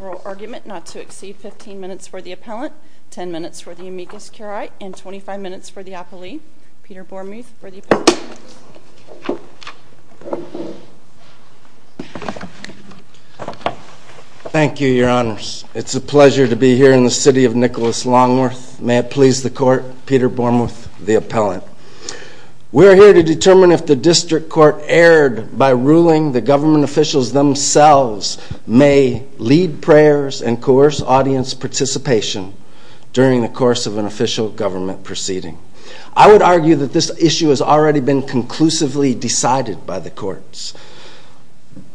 oral argument not to exceed 15 minutes for the appellant, 10 minutes for the amicus curiae, and 25 minutes for the appelee. Peter Bormuth for the appellant. Thank you, your honors. It's a pleasure to be here in the city of Nicholas-Longworth. May it please the court, Peter Bormuth, the appellant. We're here to determine if the district court erred by ruling the government officials themselves may lead prayers and coerce audience participation during the course of an official government proceeding. I would argue that this issue has already been conclusively decided by the courts.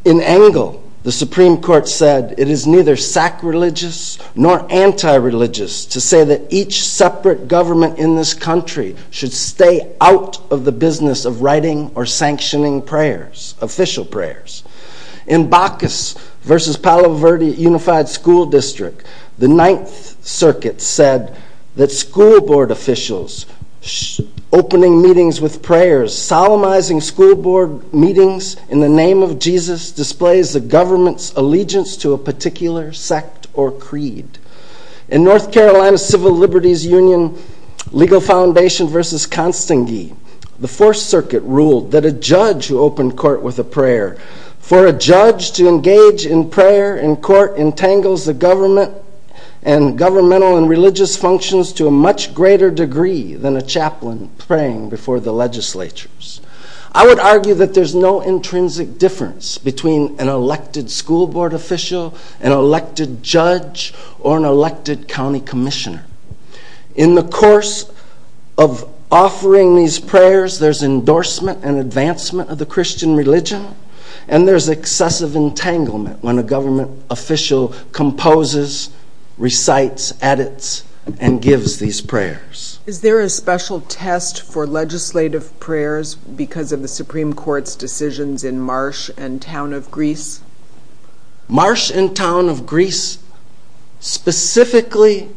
In Engle, the Supreme Court said it is neither sacrilegious nor anti-religious to say that each separate government in this country should stay out of the business of writing or sanctioning prayers, official prayers. In Bacchus v. Palo Verde Unified School District, the Ninth Circuit said that school board officials opening meetings with prayers, solemnizing school board meetings in the name of Jesus displays the government's allegiance to a particular sect or creed. In North Carolina Civil Liberties Union Legal Foundation v. Constangi, the Fourth Circuit ruled that a judge who opened court with a prayer for a judge to engage in prayer in court entangles the government and governmental and religious functions to a much greater degree than a chaplain praying before the legislatures. I would argue that there's no intrinsic difference between an elected school board official, an elected judge, or an elected county commissioner. In the course of offering these prayers, there's endorsement and advancement of the Christian religion, and there's excessive entanglement when a government official composes, recites, edits, and gives these prayers. Is there a special test for legislative prayers because of the Supreme Court's decisions in Marsh and Town of Greece? Marsh and Town of Greece specifically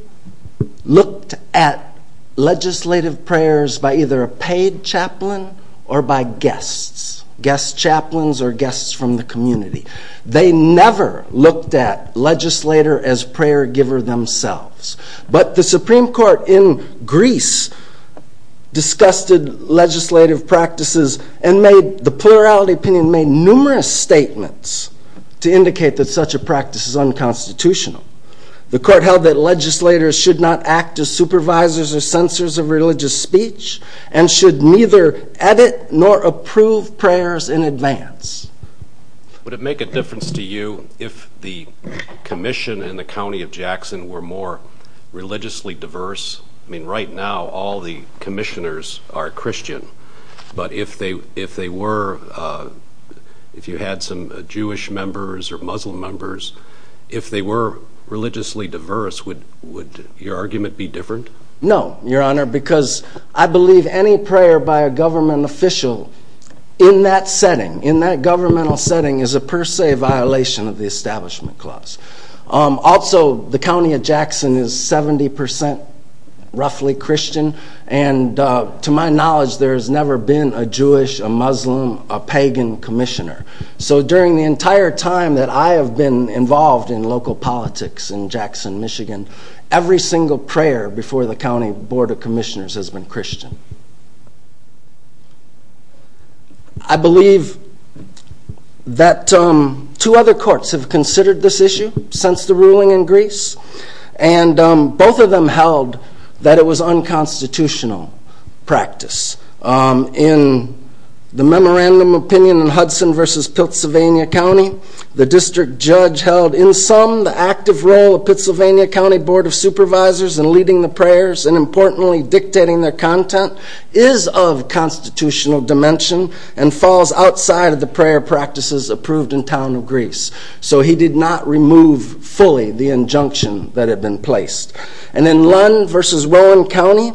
looked at legislative prayers by either a paid chaplain or by guests, guest chaplains or guests from the community. They never looked at legislator as prayer giver themselves, but the Supreme Court in Greece discussed legislative practices and made, the plurality opinion made numerous statements to indicate that such a practice is unconstitutional. The court held that legislators should not act as supervisors or censors of religious speech and should neither edit nor approve prayers in advance. Would it make a difference to you if the commission in the county of Jackson were more religiously diverse? I mean, right now, all the commissioners are Christian, but if they were, if you had some Jewish members or Muslim members, if they were religiously diverse, would your argument be different? No, Your Honor, because I believe any prayer by a government official in that setting, in that governmental setting, is a per se violation of the Establishment Clause. Also, the county of Jackson is 70% roughly Christian, and to my knowledge, there has never been a Jewish, a Muslim, a pagan commissioner. So during the entire time that I have been involved in local politics in Jackson, Michigan, every single prayer before the county board of commissioners has been Christian. I believe that two other courts have considered this issue since the ruling in Greece, and both of them held that it was unconstitutional practice. In the memorandum opinion in Hudson v. Pennsylvania County, the district judge held, in sum, the active role of the Pennsylvania County Board of Supervisors in leading the prayers and, importantly, dictating their content, is of constitutional dimension and falls outside of the prayer practices approved in the town of Greece. So he did not remove fully the injunction that had been placed. And in Lund v. Rowan County,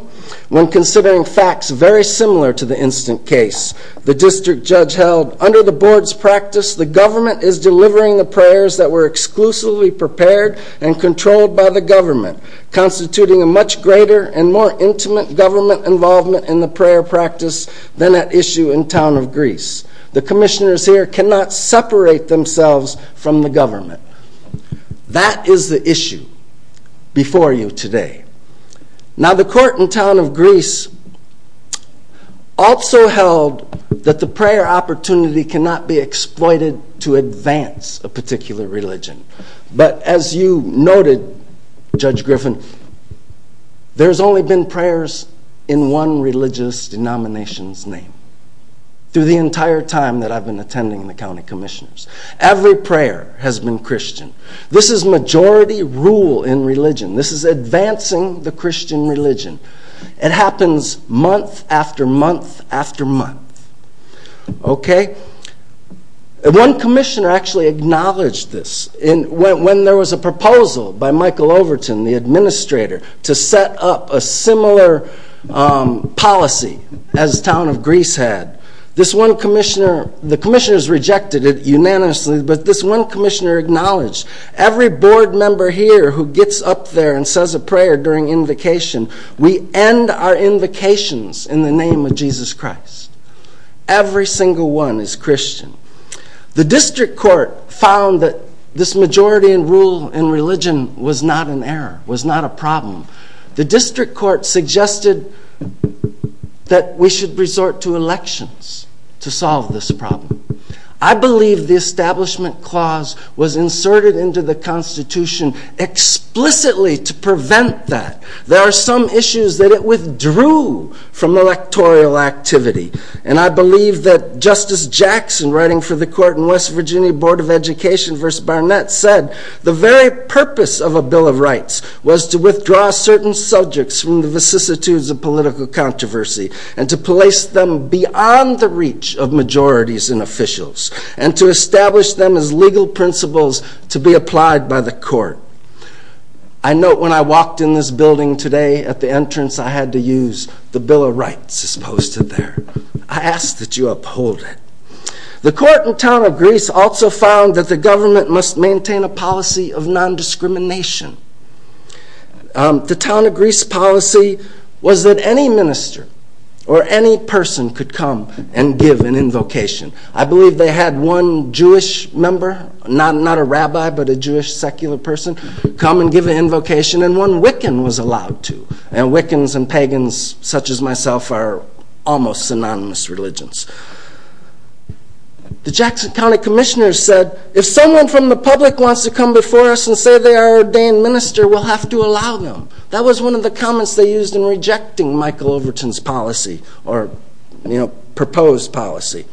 when considering facts very similar to the instant case, the district judge held, under the board's practice, the government is delivering the prayers that were exclusively prepared and controlled by the government, constituting a much greater and more intimate government involvement in the prayer practice than at issue in town of Greece. The commissioners here cannot separate themselves from the government. That is the issue before you today. Now, the court in town of Greece also held that the prayer opportunity cannot be exploited to advance a particular religion. But as you noted, Judge Griffin, there's only been prayers in one religious denomination's name through the entire time that I've been attending the county commissioners. Every prayer has been Christian. This is majority rule in religion. This is advancing the Christian religion. It happens month after month after month. One commissioner actually acknowledged this. When there was a proposal by Michael Overton, the administrator, to set up a similar policy as town of Greece had, this one commissioner, the commissioners rejected it unanimously, but this one commissioner acknowledged, every board member here who gets up there and says a prayer during invocation, we end our invocations in the name of Jesus Christ. Every single one is Christian. The district court found that this majority rule in religion was not an error, was not a problem. The district court suggested that we should resort to elections to solve this problem. I believe the establishment clause was inserted into the Constitution explicitly to prevent that. There are some issues that it withdrew from electoral activity. And I believe that Justice Jackson, writing for the court in West Virginia Board of Education v. Barnett, said, the very purpose of a Bill of Rights was to withdraw certain subjects from the vicissitudes of political controversy and to place them beyond the reach of majorities and officials, and to establish them as legal principles to be applied by the court. I note when I walked in this building today at the entrance, I had to use the Bill of Rights as posted there. I ask that you uphold it. The court in town of Greece also found that the government must maintain a policy of non-discrimination. The town of Greece policy was that any minister or any person could come and give an invocation. I believe they had one Jewish member, not a rabbi but a Jewish secular person, come and give an invocation, and one Wiccan was allowed to. And Wiccans and pagans such as myself are almost synonymous religions. The Jackson County Commissioner said, if someone from the public wants to come before us and say they are an ordained minister, we'll have to allow them. That was one of the comments they used in rejecting Michael Overton's policy, or, you know, proposed policy.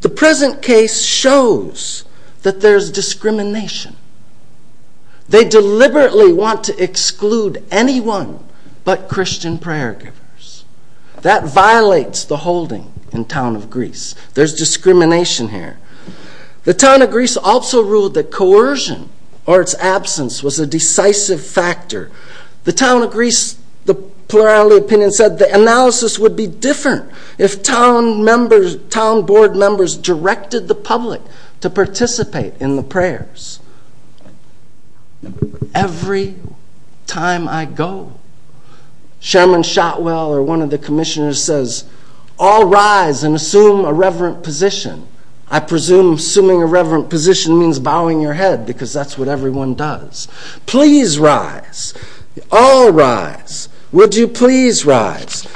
The present case shows that there's discrimination. They deliberately want to exclude anyone but Christian prayer givers. That violates the holding in town of Greece. There's discrimination here. The town of Greece also ruled that coercion or its absence was a decisive factor. The town of Greece, the plurality opinion said the analysis would be different if town board members directed the public to participate in the prayers. Every time I go, Chairman Shotwell or one of the commissioners says, all rise and assume a reverent position. I presume assuming a reverent position means bowing your head because that's what everyone does. Please rise. All rise. Would you please rise.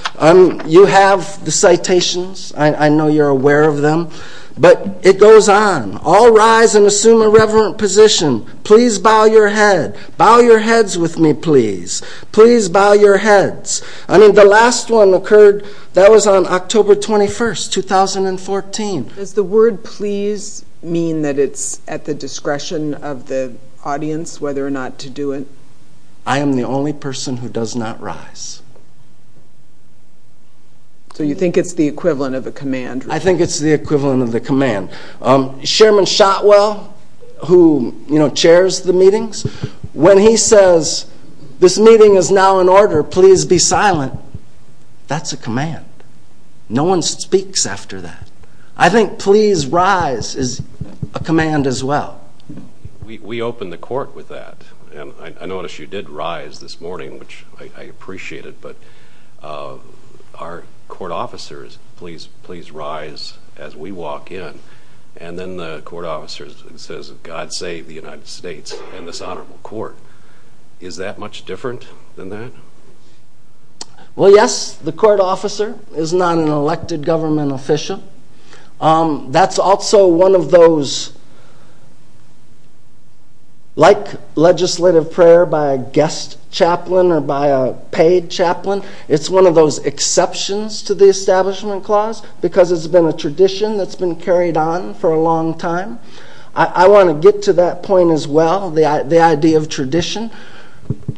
You have the citations. I know you're aware of them. But it goes on. All rise and assume a reverent position. Please bow your head. Bow your heads with me, please. Please bow your heads. I mean, the last one occurred, that was on October 21st, 2014. Does the word please mean that it's at the discretion of the audience whether or not to do it? I am the only person who does not rise. So you think it's the equivalent of a command? I think it's the equivalent of a command. Chairman Shotwell, who, you know, chairs the meetings, when he says this meeting is now in order, please be silent, that's a command. No one speaks after that. I think please rise is a command as well. We open the court with that. And I notice you did rise this morning, which I appreciate it, but our court officers, please rise as we walk in. And then the court officer says, God save the United States and this honorable court. Is that much different than that? Well, yes, the court officer is not an elected government official. That's also one of those, like legislative prayer by a guest chaplain or by a paid chaplain, it's one of those exceptions to the Establishment Clause because it's been a tradition that's been carried on for a long time. I want to get to that point as well, the idea of tradition.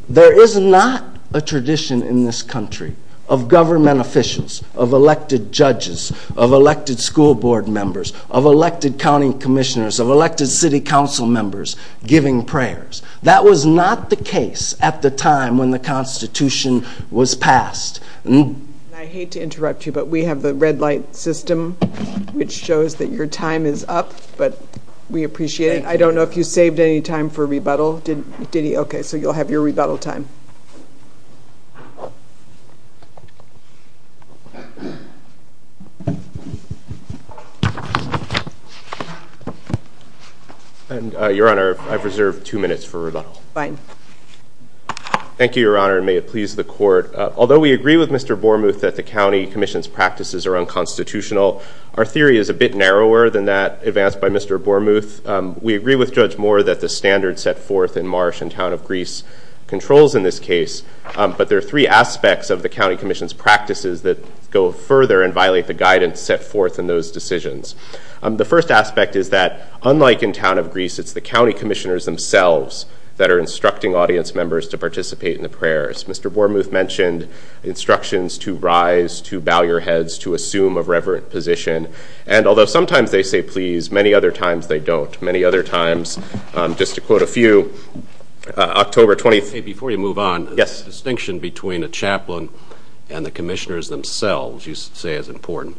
There is not a tradition in this country of government officials, of elected judges, of elected school board members, of elected county commissioners, of elected city council members giving prayers. That was not the case at the time when the Constitution was passed. I hate to interrupt you, but we have the red light system, which shows that your time is up, but we appreciate it. I don't know if you saved any time for rebuttal. Did he? Okay, so you'll have your rebuttal time. Your Honor, I've reserved two minutes for rebuttal. Fine. Thank you, Your Honor, and may it please the Court. Although we agree with Mr. Bormuth that the county commission's practices are unconstitutional, our theory is a bit narrower than that advanced by Mr. Bormuth. We agree with Judge Moore that the standards set forth in Marsh and Town of Greece controls in this case, but there are three aspects of the county commission's practices that go further and violate the guidance set forth in those decisions. The first aspect is that unlike in Town of Greece, it's the county commissioners themselves that are instructing audience members to participate in the prayers. Mr. Bormuth mentioned instructions to rise, to bow your heads, to assume a reverent position, and although sometimes they say please, many other times they don't. Many other times, just to quote a few, October 20th. Before you move on, the distinction between a chaplain and the commissioners themselves you say is important.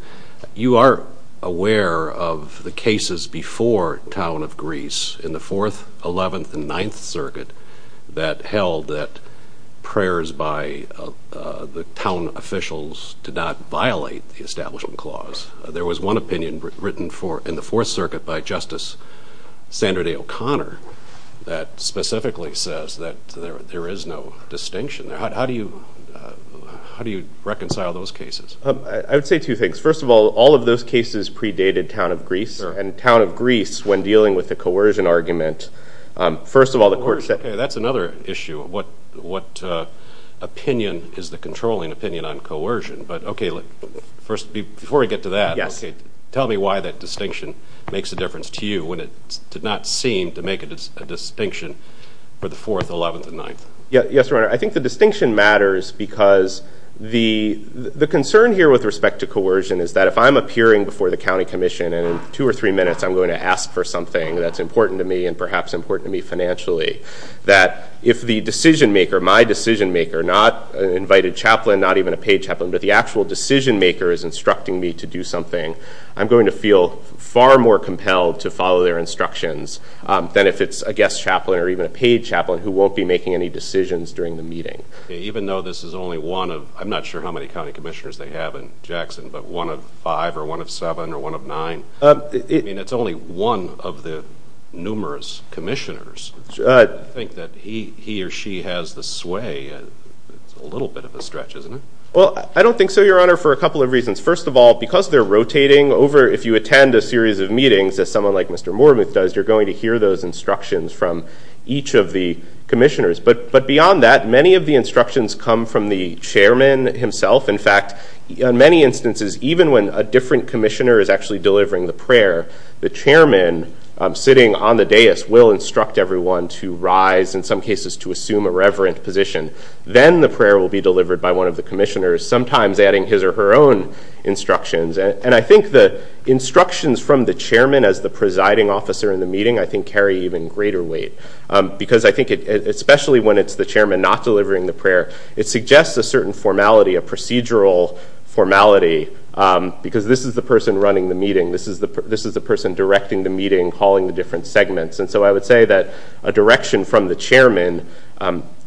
You are aware of the cases before Town of Greece in the Fourth, Eleventh, and Ninth Circuit that held that prayers by the town officials did not violate the Establishment Clause. There was one opinion written in the Fourth Circuit by Justice Sandra Day O'Connor that specifically says that there is no distinction. How do you reconcile those cases? I would say two things. First of all, all of those cases predated Town of Greece, and Town of Greece, when dealing with the coercion argument, first of all the court said that's another issue. What opinion is the controlling opinion on coercion? Before we get to that, tell me why that distinction makes a difference to you when it did not seem to make a distinction for the Fourth, Eleventh, and Ninth. Yes, Your Honor. I think the distinction matters because the concern here with respect to coercion is that if I'm appearing before the county commission and in two or three minutes I'm going to ask for something that's important to me and perhaps important to me financially, that if the decision maker, my decision maker, not an invited chaplain, not even a paid chaplain, but the actual decision maker is instructing me to do something, I'm going to feel far more compelled to follow their instructions than if it's a guest chaplain or even a paid chaplain who won't be making any decisions during the meeting. Even though this is only one of, I'm not sure how many county commissioners they have in Jackson, but one of five or one of seven or one of nine? I mean, it's only one of the numerous commissioners. I think that he or she has the sway. It's a little bit of a stretch, isn't it? Well, I don't think so, Your Honor, for a couple of reasons. First of all, because they're rotating over, if you attend a series of meetings, as someone like Mr. Moormuth does, you're going to hear those instructions from each of the commissioners. But beyond that, many of the instructions come from the chairman himself. In fact, in many instances, even when a different commissioner is actually delivering the prayer, the chairman sitting on the dais will instruct everyone to rise, in some cases to assume a reverent position. Then the prayer will be delivered by one of the commissioners, sometimes adding his or her own instructions. And I think the instructions from the chairman as the presiding officer in the meeting, I think, carry even greater weight. Because I think, especially when it's the chairman not delivering the prayer, it suggests a certain formality, a procedural formality, because this is the person running the meeting. This is the person directing the meeting, calling the different segments. And so I would say that a direction from the chairman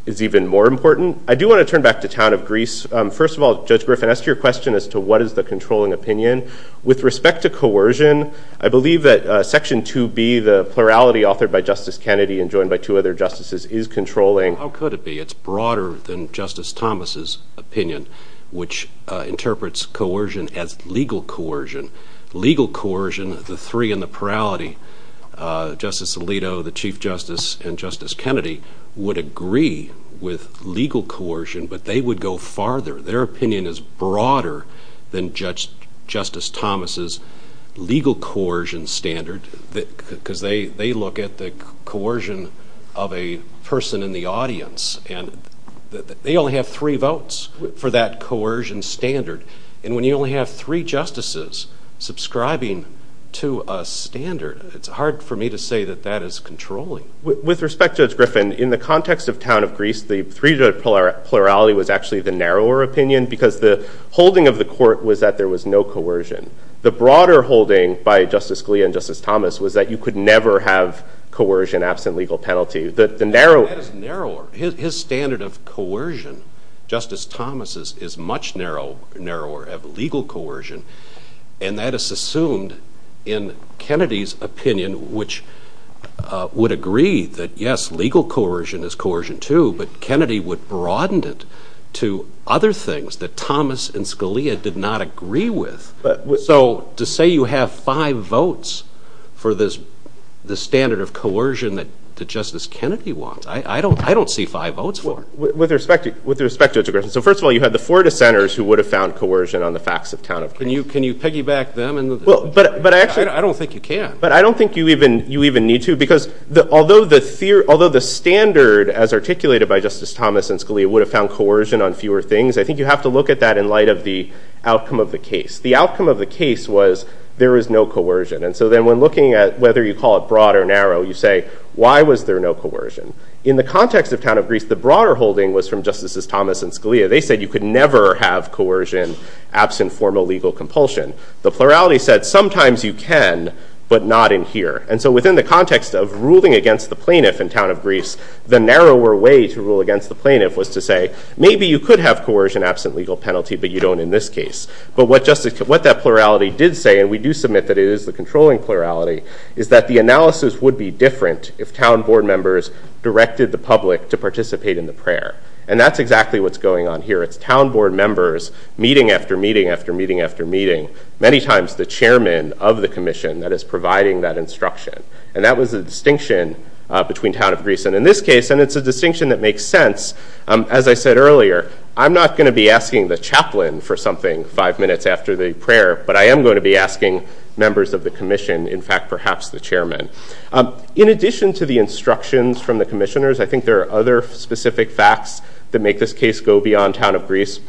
is even more important. I do want to turn back to Town of Greece. First of all, Judge Griffin, as to your question as to what is the controlling opinion, with respect to coercion, I believe that Section 2B, the plurality authored by Justice Kennedy and joined by two other justices, is controlling. How could it be? It's broader than Justice Thomas' opinion, which interprets coercion as legal coercion. Legal coercion, the three in the plurality, Justice Alito, the Chief Justice, and Justice Kennedy, would agree with legal coercion, but they would go farther. Their opinion is broader than Justice Thomas' legal coercion standard, because they look at the coercion of a person in the audience. And they only have three votes for that coercion standard. And when you only have three justices subscribing to a standard, it's hard for me to say that that is controlling. With respect, Judge Griffin, in the context of Town of Greece, the three-judge plurality was actually the narrower opinion because the holding of the court was that there was no coercion. The broader holding by Justice Scalia and Justice Thomas was that you could never have coercion absent legal penalty. That is narrower. His standard of coercion, Justice Thomas' is much narrower, of legal coercion, and that is assumed in Kennedy's opinion, which would agree that, yes, legal coercion is coercion, too, but Kennedy would broaden it to other things that Thomas and Scalia did not agree with. So to say you have five votes for this standard of coercion that Justice Kennedy wants, I don't see five votes for it. With respect to Judge Griffin, so first of all, you had the four dissenters who would have found coercion on the facts of Town of Greece. Can you piggyback them? I don't think you can. But I don't think you even need to, because although the standard as articulated by Justice Thomas and Scalia would have found coercion on fewer things, I think you have to look at that in light of the outcome of the case. The outcome of the case was there was no coercion. And so then when looking at whether you call it broad or narrow, you say, why was there no coercion? In the context of Town of Greece, the broader holding was from Justices Thomas and Scalia. They said you could never have coercion absent formal legal compulsion. The plurality said sometimes you can, but not in here. And so within the context of ruling against the plaintiff in Town of Greece, the narrower way to rule against the plaintiff was to say, maybe you could have coercion absent legal penalty, but you don't in this case. But what that plurality did say, and we do submit that it is the controlling plurality, is that the analysis would be different if town board members directed the public to participate in the prayer. And that's exactly what's going on here. It's town board members meeting after meeting after meeting after meeting, many times the chairman of the commission that is providing that instruction. And that was the distinction between Town of Greece and in this case. And it's a distinction that makes sense. As I said earlier, I'm not going to be asking the chaplain for something five minutes after the prayer. But I am going to be asking members of the commission, in fact, perhaps the chairman. In addition to the instructions from the commissioners, I think there are other specific facts that make this case go beyond Town of Greece.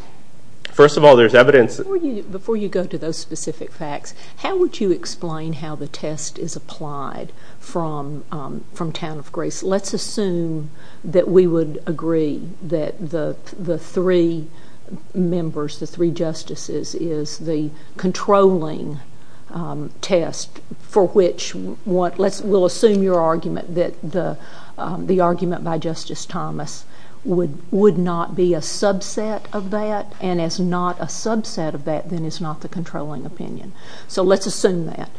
First of all, there's evidence. Before you go to those specific facts, how would you explain how the test is applied from Town of Greece? Let's assume that we would agree that the three members, the three justices, is the controlling test for which we'll assume your argument that the argument by Justice Thomas would not be a subset of that. And as not a subset of that, then it's not the controlling opinion. So let's assume that.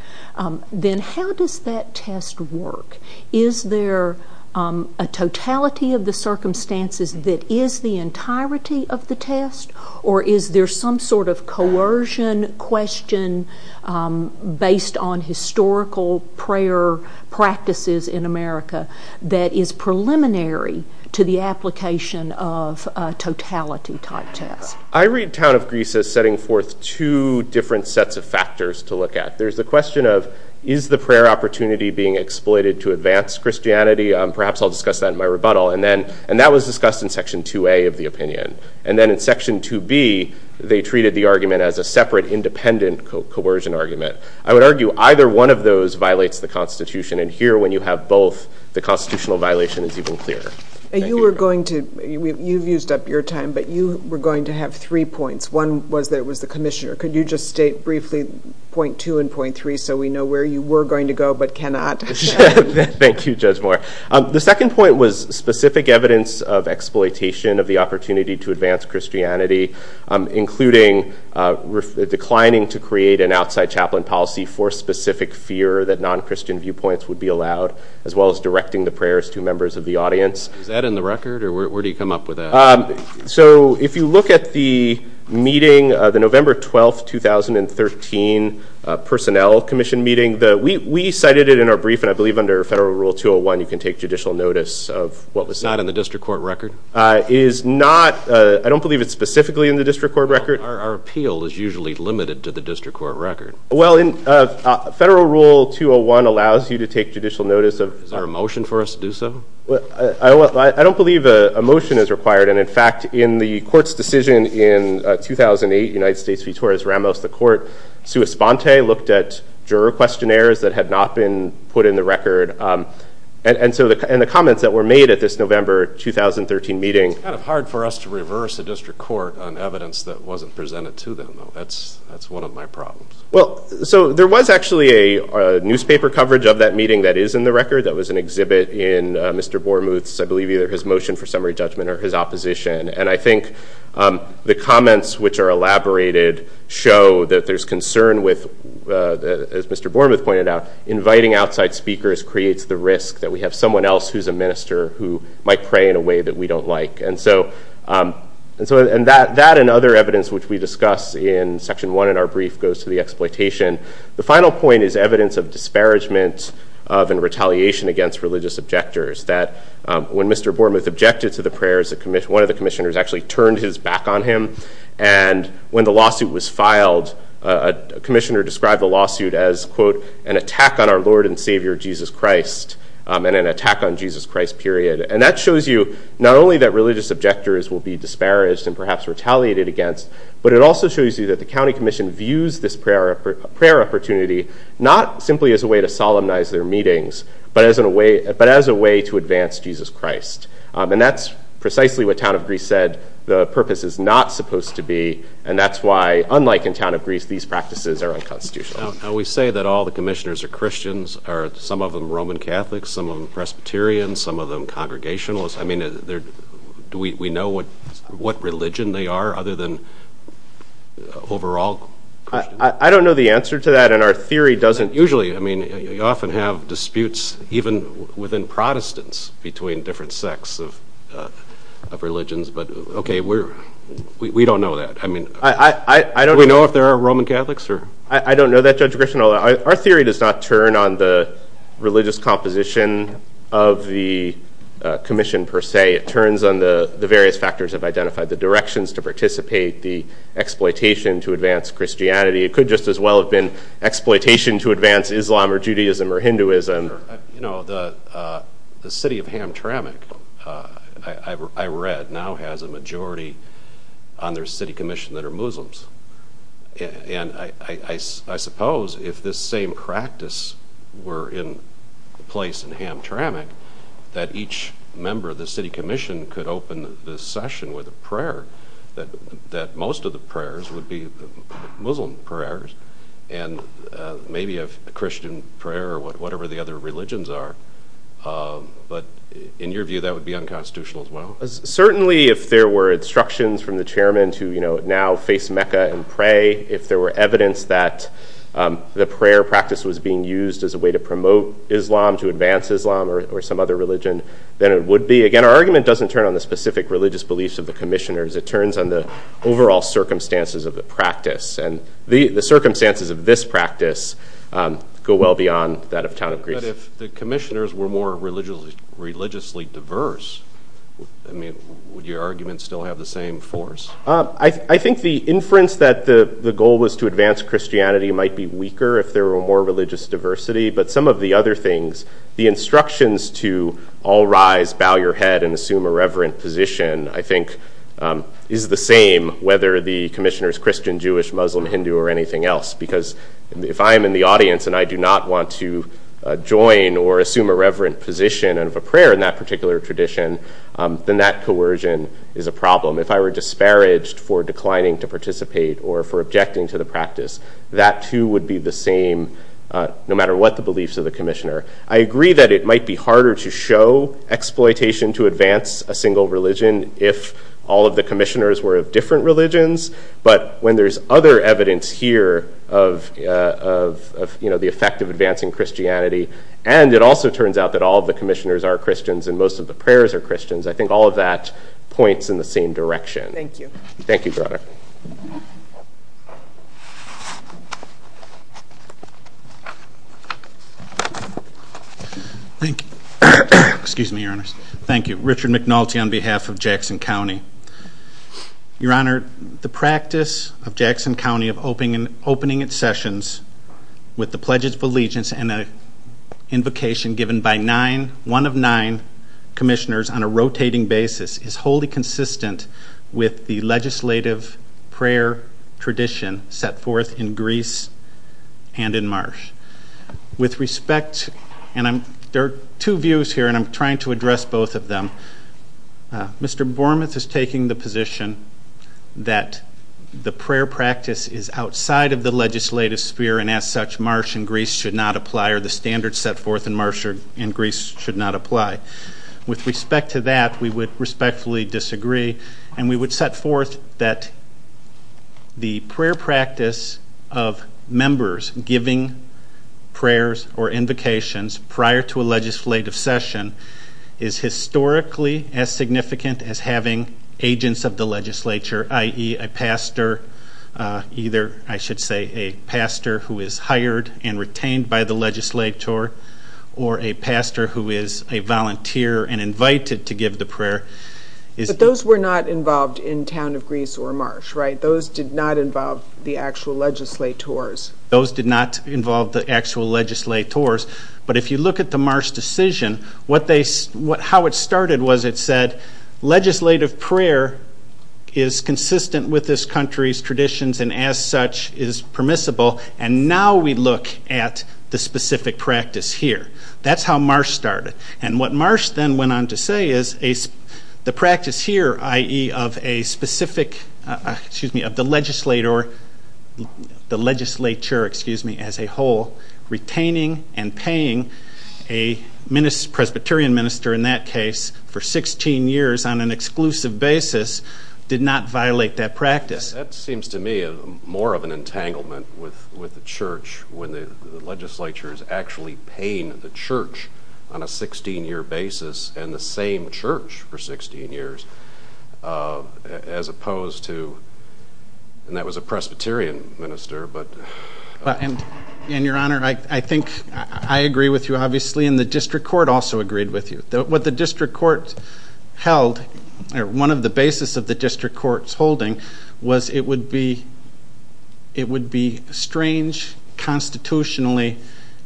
Then how does that test work? Is there a totality of the circumstances that is the entirety of the test? Or is there some sort of coercion question based on historical prayer practices in America that is preliminary to the application of a totality type test? I read Town of Greece as setting forth two different sets of factors to look at. There's the question of, is the prayer opportunity being exploited to advance Christianity? Perhaps I'll discuss that in my rebuttal. And that was discussed in Section 2A of the opinion. And then in Section 2B, they treated the argument as a separate, independent coercion argument. I would argue either one of those violates the Constitution. And here, when you have both, the Constitutional violation is even clearer. You've used up your time. But you were going to have three points. One was that it was the commissioner. Could you just state briefly point two and point three so we know where you were going to go but cannot? Thank you, Judge Moore. The second point was specific evidence of exploitation of the opportunity to advance Christianity, including declining to create an outside chaplain policy for specific fear that non-Christian viewpoints would be allowed, as well as directing the prayers to members of the audience. Is that in the record? Or where do you come up with that? So if you look at the meeting, the November 12, 2013 Personnel Commission meeting, we cited it in our brief. And I believe under Federal Rule 201, you can take judicial notice of what was said. Not in the district court record? It is not. I don't believe it's specifically in the district court record. Our appeal is usually limited to the district court record. Well, Federal Rule 201 allows you to take judicial notice of Is there a motion for us to do so? I don't believe a motion is required. And in fact, in the court's decision in 2008, United States v. Torres Ramos, the court sua sponte looked at juror questionnaires that had not been put in the record. And the comments that were made at this November 2013 meeting It's kind of hard for us to reverse a district court on evidence that wasn't presented to them. That's one of my problems. Well, so there was actually a newspaper coverage of that meeting that is in the record. That was an exhibit in Mr. Bormuth's, I believe, either his motion for summary judgment or his opposition. And I think the comments which are elaborated show that there's concern with, as Mr. Bormuth pointed out, inviting outside speakers creates the risk that we have someone else who's a minister who might pray in a way that we don't like. And so that and other evidence which we discuss in section 1 in our brief goes to the exploitation. The final point is evidence of disparagement and retaliation against religious objectors. That when Mr. Bormuth objected to the prayers, one of the commissioners actually turned his back on him. And when the lawsuit was filed, a commissioner described the lawsuit as, quote, and an attack on Jesus Christ, period. And that shows you not only that religious objectors will be disparaged and perhaps retaliated against, but it also shows you that the county commission views this prayer opportunity not simply as a way to solemnize their meetings, but as a way to advance Jesus Christ. And that's precisely what Town of Greece said the purpose is not supposed to be. And that's why, unlike in Town of Greece, these practices are unconstitutional. We say that all the commissioners are Christians, some of them Roman Catholics, some of them Presbyterians, some of them Congregationalists. I mean, do we know what religion they are other than overall Christians? I don't know the answer to that. And our theory doesn't usually, I mean, you often have disputes even within Protestants between different sects of religions. But OK, we don't know that. I mean, do we know if there are Roman Catholics? I don't know that, Judge Grisham. Our theory does not turn on the religious composition of the commission, per se. It turns on the various factors of identifying the directions to participate, the exploitation to advance Christianity. It could just as well have been exploitation to advance Islam or Judaism or Hinduism. You know, the city of Hamtramck, I read, now has a majority on their city commission that are Muslims. And I suppose if this same practice were in place in Hamtramck, that each member of the city commission could open the session with a prayer, that most of the prayers would be Muslim prayers and maybe a Christian prayer or whatever the other religions are. But in your view, that would be unconstitutional as well? Certainly, if there were instructions from the chairman to now face Mecca and pray, if there were evidence that the prayer practice was being used as a way to promote Islam, to advance Islam or some other religion, then it would be. Again, our argument doesn't turn on the specific religious beliefs of the commissioners. It turns on the overall circumstances of the practice. And the circumstances of this practice go well beyond that of town of Greece. But if the commissioners were more religiously diverse, I mean, would your argument still have the same force? I think the inference that the goal was to advance Christianity might be weaker if there were more religious diversity. But some of the other things, the instructions to all rise, bow your head, and assume a reverent position, I think, is the same whether the commissioner is Christian, Jewish, Muslim, Hindu, or anything else. Because if I am in the audience and I do not want to join or assume a reverent position of a prayer in that particular tradition, then that coercion is a problem. If I were disparaged for declining to participate or for objecting to the practice, that too would be the same no matter what the beliefs of the commissioner. I agree that it might be harder to show exploitation to advance a single religion if all of the commissioners were of different religions. But when there's other evidence here of the effect of advancing Christianity, and it also turns out that all of the commissioners are Christians and most of the prayers are Christians, Thank you. Thank you, Your Honor. Thank you. Excuse me, Your Honors. Thank you. Richard McNulty on behalf of Jackson County. Your Honor, the practice of Jackson County of opening its sessions with the Pledges of Allegiance and an invocation given by one of nine commissioners on a rotating basis is wholly consistent with the legislative prayer tradition set forth in Greece and in Marsh. With respect, and there are two views here and I'm trying to address both of them. Mr. Bormuth is taking the position that the prayer practice is outside of the legislative sphere and as such Marsh and Greece should not apply or the standards set forth in Marsh and Greece should not apply. With respect to that, we would respectfully disagree and we would set forth that the prayer practice of members giving prayers or invocations prior to a legislative session is historically as significant as having agents of the legislature, i.e. a pastor, either I should say a pastor who is hired and retained by the legislature or a pastor who is a volunteer and invited to give the prayer. But those were not involved in Town of Greece or Marsh, right? Those did not involve the actual legislators. Those did not involve the actual legislators. But if you look at the Marsh decision, how it started was it said legislative prayer is consistent with this country's traditions and as such is permissible and now we look at the specific practice here. That's how Marsh started and what Marsh then went on to say is the practice here, i.e. of a specific, excuse me, of the legislature as a whole retaining and paying a Presbyterian minister in that case for 16 years on an exclusive basis did not violate that practice. That seems to me more of an entanglement with the church when the legislature is actually paying the church on a 16-year basis and the same church for 16 years as opposed to, and that was a Presbyterian minister, but... And, Your Honor, I think I agree with you obviously and the district court also agreed with you. What the district court held, one of the basis of the district court's holding was it would be strange constitutionally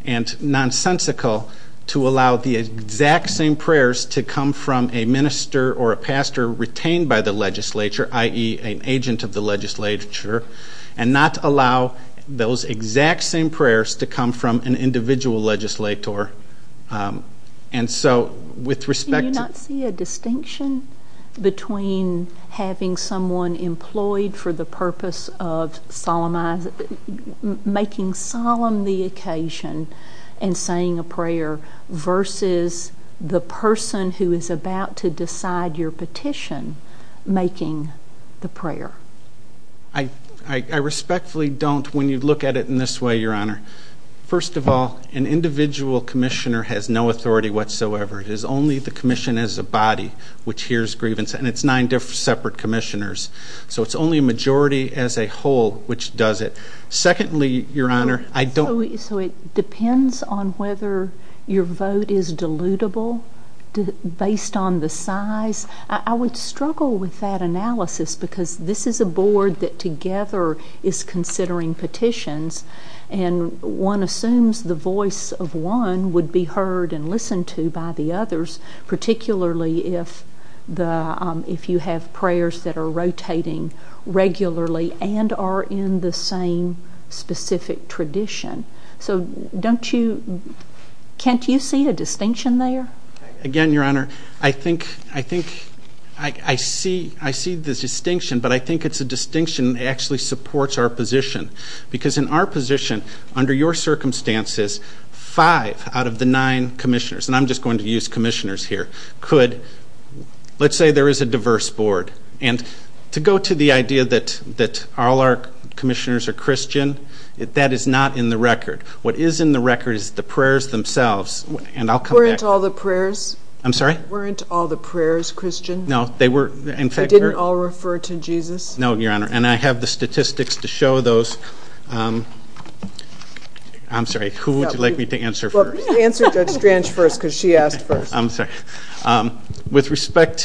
and nonsensical to allow the exact same prayers to come from a minister or a pastor retained by the legislature, i.e. an agent of the legislature, and not allow those exact same prayers to come from an individual legislator. And so with respect to... Do you not see a distinction between having someone and saying a prayer versus the person who is about to decide your petition making the prayer? I respectfully don't when you look at it in this way, Your Honor. First of all, an individual commissioner has no authority whatsoever. It is only the commission as a body which hears grievance, and it's nine separate commissioners. So it's only a majority as a whole which does it. Secondly, Your Honor, I don't... So it depends on whether your vote is dilutable based on the size? I would struggle with that analysis because this is a board that together is considering petitions, and one assumes the voice of one would be heard and listened to by the others, particularly if you have prayers that are rotating regularly and are in the same specific tradition. So don't you... Kent, do you see a distinction there? Again, Your Honor, I think... I see the distinction, but I think it's a distinction that actually supports our position because in our position, under your circumstances, five out of the nine commissioners, and I'm just going to use commissioners here, could... Let's say there is a diverse board, and to go to the idea that all our commissioners are Christian, that is not in the record. What is in the record is the prayers themselves, and I'll come back to that. Weren't all the prayers... I'm sorry? Weren't all the prayers Christian? No, they were... They didn't all refer to Jesus? No, Your Honor, and I have the statistics to show those. I'm sorry, who would you like me to answer first? Answer Judge Strange first because she asked first. I'm sorry. With respect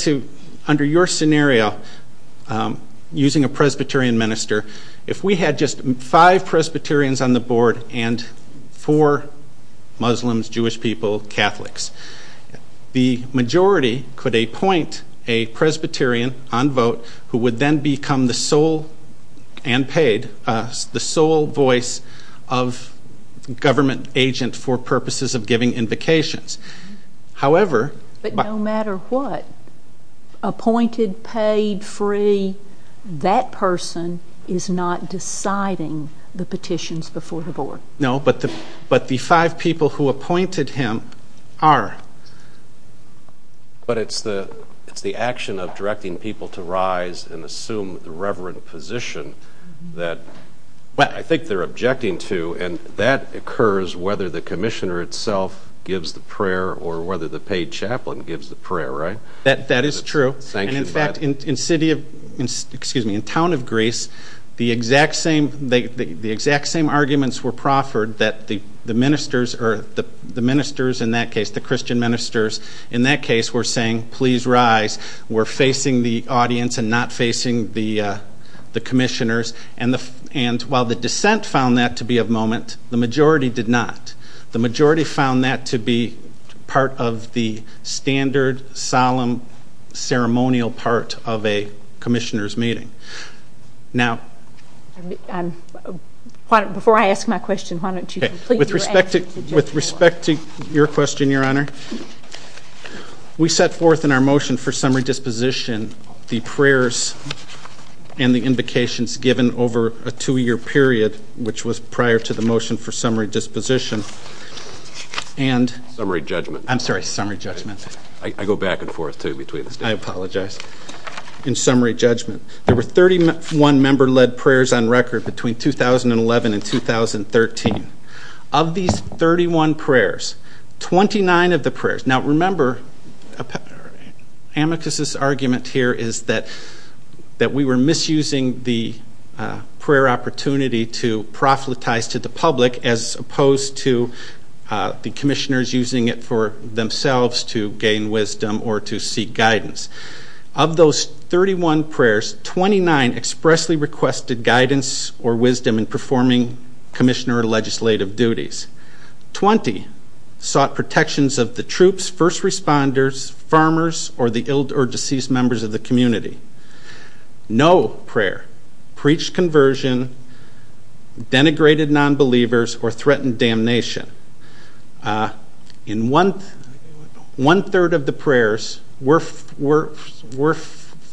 to under your scenario, using a Presbyterian minister, if we had just five Presbyterians on the board and four Muslims, Jewish people, Catholics, the majority could appoint a Presbyterian on vote who would then become the sole, and paid, the sole voice of government agent for purposes of giving invocations. However... But no matter what, appointed, paid, free, that person is not deciding the petitions before the board. No, but the five people who appointed him are. But it's the action of directing people to rise and assume the reverent position that I think they're objecting to, and that occurs whether the commissioner itself gives the prayer or whether the paid chaplain gives the prayer, right? That is true. And in fact, in town of Greece, the exact same arguments were proffered that the ministers, or the ministers in that case, the Christian ministers in that case, were saying, please rise. We're facing the audience and not facing the commissioners. And while the dissent found that to be a moment, the majority did not. The majority found that to be part of the standard, solemn, ceremonial part of a commissioner's meeting. Now... Before I ask my question, why don't you complete your answer? With respect to your question, Your Honor, we set forth in our motion for summary disposition the prayers and the invocations given over a two-year period, which was prior to the motion for summary disposition, and... Summary judgment. I'm sorry, summary judgment. I go back and forth, too, between the statements. I apologize. In summary judgment, there were 31 member-led prayers on record between 2011 and 2013. Of these 31 prayers, 29 of the prayers, now remember, Amicus's argument here is that we were misusing the prayer opportunity to prophetize to the public as opposed to the commissioners using it for themselves to gain wisdom or to seek guidance. Of those 31 prayers, 29 expressly requested guidance or wisdom in performing commissioner or legislative duties. 20 sought protections of the troops, first responders, farmers, or the ill or deceased members of the community. No prayer preached conversion, denigrated nonbelievers, or threatened damnation. In one third of the prayers were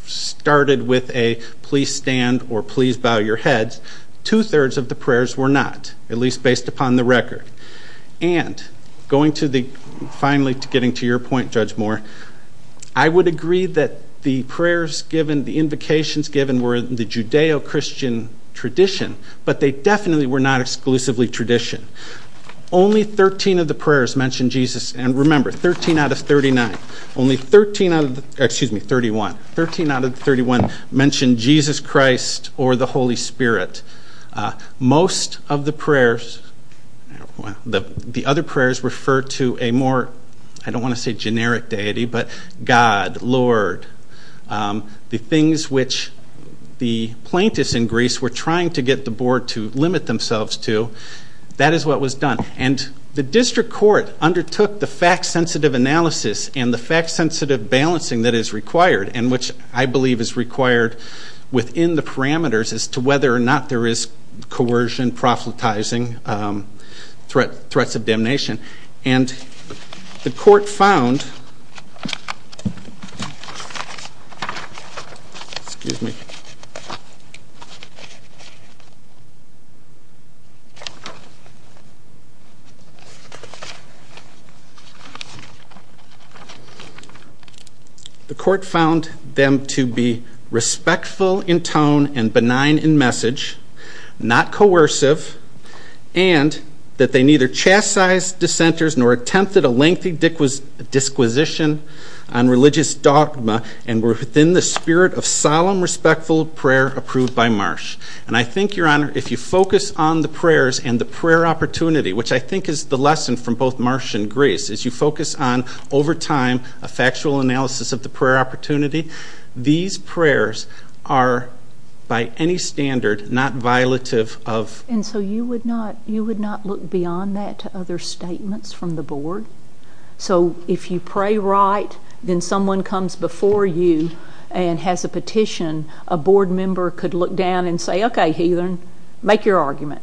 started with a please stand or please bow your heads. Two thirds of the prayers were not, at least based upon the record. And, going to the... Finally, getting to your point, Judge Moore, I would agree that the prayers given, the invocations given, were the Judeo-Christian tradition, but they definitely were not exclusively tradition. Only 13 of the prayers mentioned Jesus. And remember, 13 out of 39. Only 13 out of... Excuse me, 31. 13 out of 31 mentioned Jesus Christ or the Holy Spirit. Most of the prayers... The other prayers refer to a more, I don't want to say generic deity, but God, Lord, the things which the plaintiffs in Greece were trying to get the board to limit themselves to. That is what was done. And the district court undertook the fact-sensitive analysis and the fact-sensitive balancing that is required, and which I believe is required within the parameters as to whether or not there is coercion, prophetizing, threats of damnation. And the court found... Excuse me. The court found them to be respectful in tone and benign in message, not coercive, and that they neither chastised dissenters nor attempted a lengthy disquisition on religious dogma and were within the spirit of solemn, respectful prayer approved by Marsh. And I think, Your Honor, if you focus on the prayers and the prayer opportunity, which I think is the lesson from both Marsh and Greece, is you focus on, over time, a factual analysis of the prayer opportunity. These prayers are, by any standard, not violative of... And so you would not look beyond that to other statements from the board? So if you pray right, then someone comes before you and has a petition, a board member could look down and say, Okay, heathen, make your argument.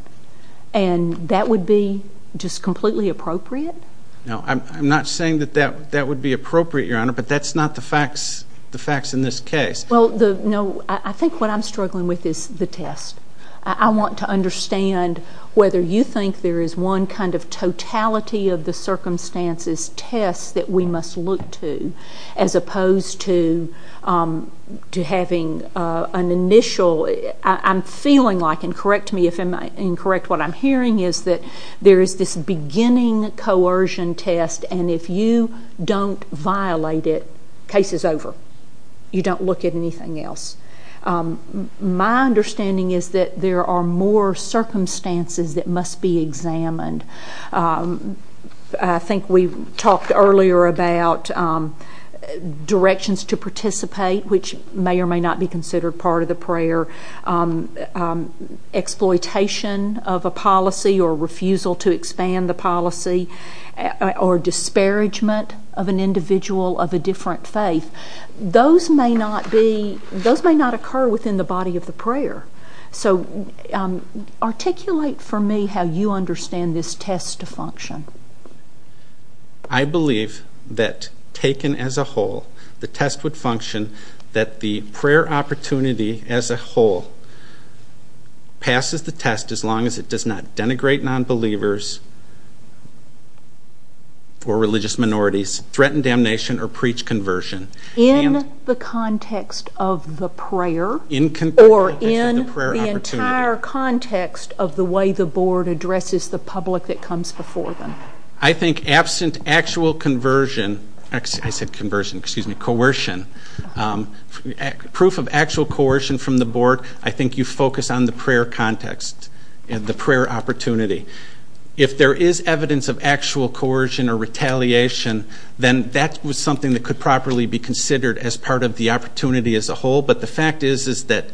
And that would be just completely appropriate? No, I'm not saying that that would be appropriate, Your Honor, but that's not the facts in this case. Well, no, I think what I'm struggling with is the test. I want to understand whether you think there is one kind of totality of the circumstances test that we must look to as opposed to having an initial... I'm feeling like, and correct me if I'm incorrect, what I'm hearing is that there is this beginning coercion test, and if you don't violate it, case is over. You don't look at anything else. My understanding is that there are more circumstances that must be examined. I think we talked earlier about directions to participate, which may or may not be considered part of the prayer, whether exploitation of a policy or refusal to expand the policy or disparagement of an individual of a different faith. Those may not occur within the body of the prayer. So articulate for me how you understand this test to function. I believe that taken as a whole, the test would function that the prayer opportunity as a whole passes the test as long as it does not denigrate nonbelievers or religious minorities, threaten damnation, or preach conversion. In the context of the prayer or in the entire context of the way the board addresses the public that comes before them? I think absent actual conversion, I said conversion, excuse me, coercion, proof of actual coercion from the board, I think you focus on the prayer context and the prayer opportunity. If there is evidence of actual coercion or retaliation, then that was something that could properly be considered as part of the opportunity as a whole, but the fact is that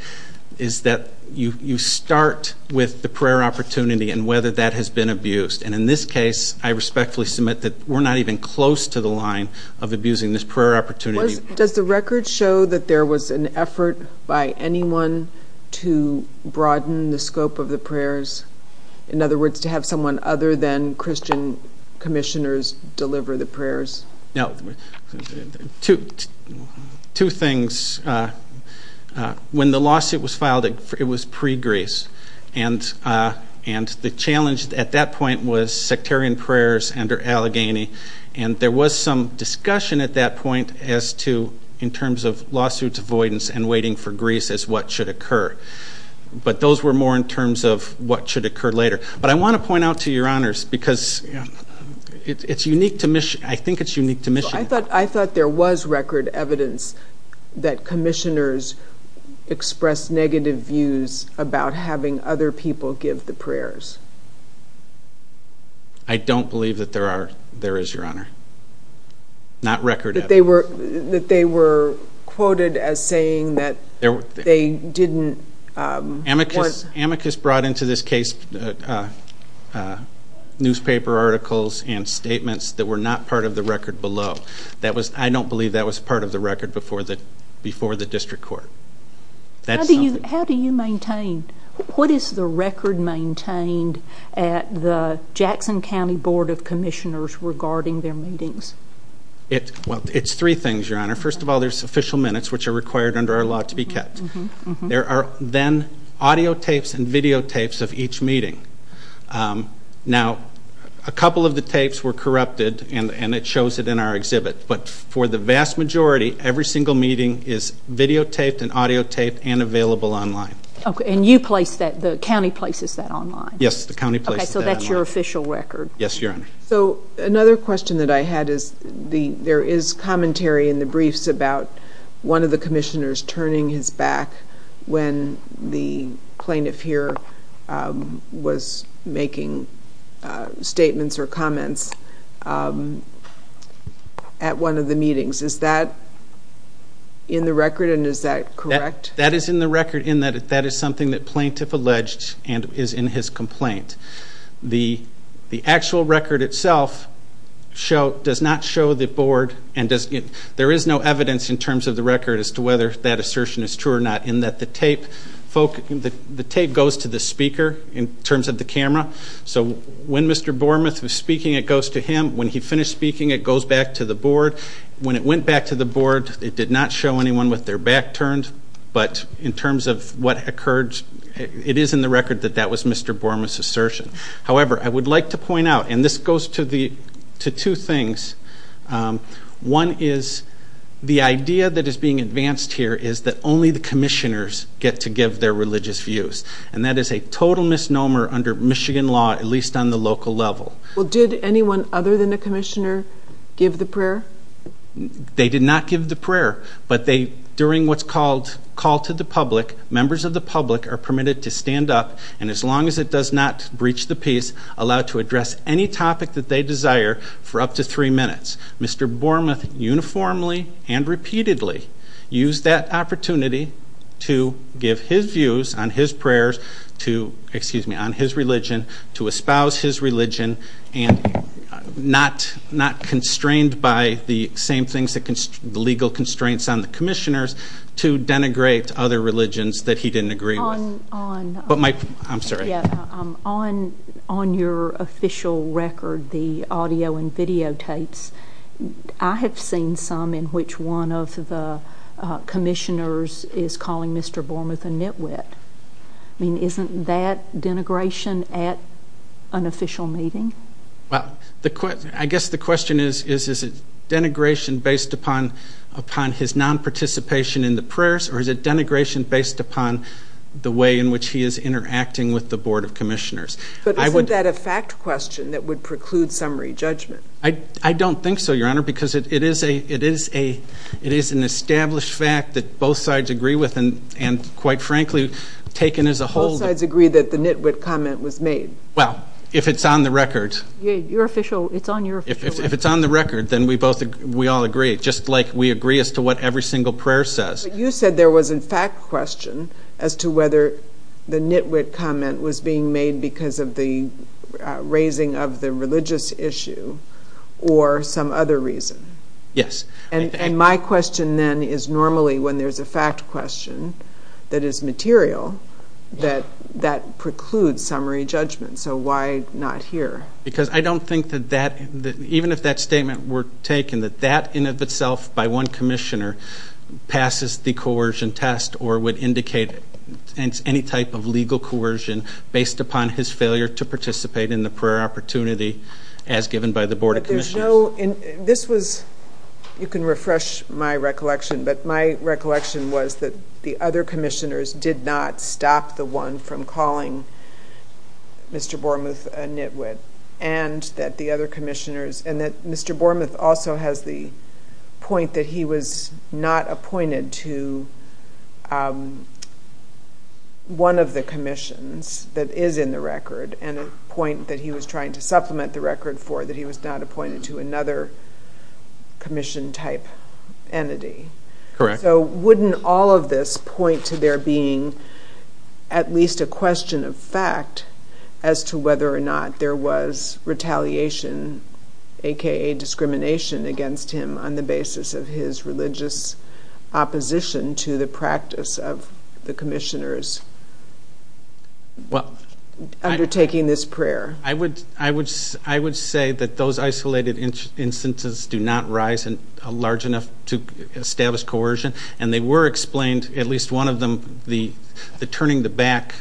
you start with the prayer opportunity and whether that has been abused. And in this case, I respectfully submit that we're not even close to the line of abusing this prayer opportunity. Does the record show that there was an effort by anyone to broaden the scope of the prayers? In other words, to have someone other than Christian commissioners deliver the prayers? No. Two things. When the lawsuit was filed, it was pre-Greece. And the challenge at that point was sectarian prayers under Allegheny. And there was some discussion at that point as to, in terms of lawsuits avoidance and waiting for Greece as what should occur. But those were more in terms of what should occur later. But I want to point out to your honors, because it's unique to Michigan. I think it's unique to Michigan. I thought there was record evidence that commissioners expressed negative views about having other people give the prayers. I don't believe that there is, your honor. Not record evidence. That they were quoted as saying that they didn't. Amicus brought into this case newspaper articles and statements that were not part of the record below. I don't believe that was part of the record before the district court. How do you maintain? What is the record maintained at the Jackson County Board of Commissioners regarding their meetings? Well, it's three things, your honor. First of all, there's official minutes, which are required under our law to be kept. There are then audio tapes and video tapes of each meeting. Now, a couple of the tapes were corrupted, and it shows it in our exhibit. But for the vast majority, every single meeting is videotaped and audiotaped and available online. Okay, and you place that, the county places that online? Yes, the county places that online. Okay, so that's your official record. Yes, your honor. So another question that I had is there is commentary in the briefs about one of the commissioners turning his back when the plaintiff here was making statements or comments at one of the meetings. Is that in the record, and is that correct? That is in the record in that that is something that plaintiff alleged and is in his complaint. The actual record itself does not show the board and there is no evidence in terms of the record as to whether that assertion is true or not, in that the tape goes to the speaker in terms of the camera. So when Mr. Bormuth was speaking, it goes to him. When he finished speaking, it goes back to the board. When it went back to the board, it did not show anyone with their back turned. But in terms of what occurred, it is in the record that that was Mr. Bormuth's assertion. However, I would like to point out, and this goes to two things. One is the idea that is being advanced here is that only the commissioners get to give their religious views, and that is a total misnomer under Michigan law, at least on the local level. Well, did anyone other than the commissioner give the prayer? They did not give the prayer, but during what's called call to the public, members of the public are permitted to stand up, and as long as it does not breach the peace, allowed to address any topic that they desire for up to three minutes. Mr. Bormuth uniformly and repeatedly used that opportunity to give his views on his prayers to, excuse me, on his religion, to espouse his religion, and not constrained by the same things, the legal constraints on the commissioners, to denigrate other religions that he didn't agree with. On your official record, the audio and videotapes, I have seen some in which one of the commissioners is calling Mr. Bormuth a nitwit. I mean, isn't that denigration at an official meeting? Well, I guess the question is, is it denigration based upon his nonparticipation in the prayers, or is it denigration based upon the way in which he is interacting with the Board of Commissioners? But isn't that a fact question that would preclude summary judgment? I don't think so, Your Honor, because it is an established fact that both sides agree with, and quite frankly, taken as a whole. Both sides agree that the nitwit comment was made. Well, if it's on the record. It's on your official record. If it's on the record, then we all agree, just like we agree as to what every single prayer says. But you said there was a fact question as to whether the nitwit comment was being made because of the raising of the religious issue or some other reason. Yes. And my question then is normally when there's a fact question that is material, that that precludes summary judgment. So why not here? Because I don't think that that, even if that statement were taken, that that in of itself by one commissioner passes the coercion test or would indicate any type of legal coercion based upon his failure to participate in the prayer opportunity as given by the Board of Commissioners. This was, you can refresh my recollection, but my recollection was that the other commissioners did not stop the one from calling Mr. Bormuth a nitwit, and that the other commissioners, and that Mr. Bormuth also has the point that he was not appointed to one of the commissions that is in the record, and a point that he was trying to supplement the record for, that he was not appointed to another commission type entity. Correct. So wouldn't all of this point to there being at least a question of fact as to whether or not there was retaliation, a.k.a. discrimination against him on the basis of his religious opposition to the practice of the commissioners undertaking this prayer? I would say that those isolated instances do not rise large enough to establish coercion, and they were explained, at least one of them, the turning the back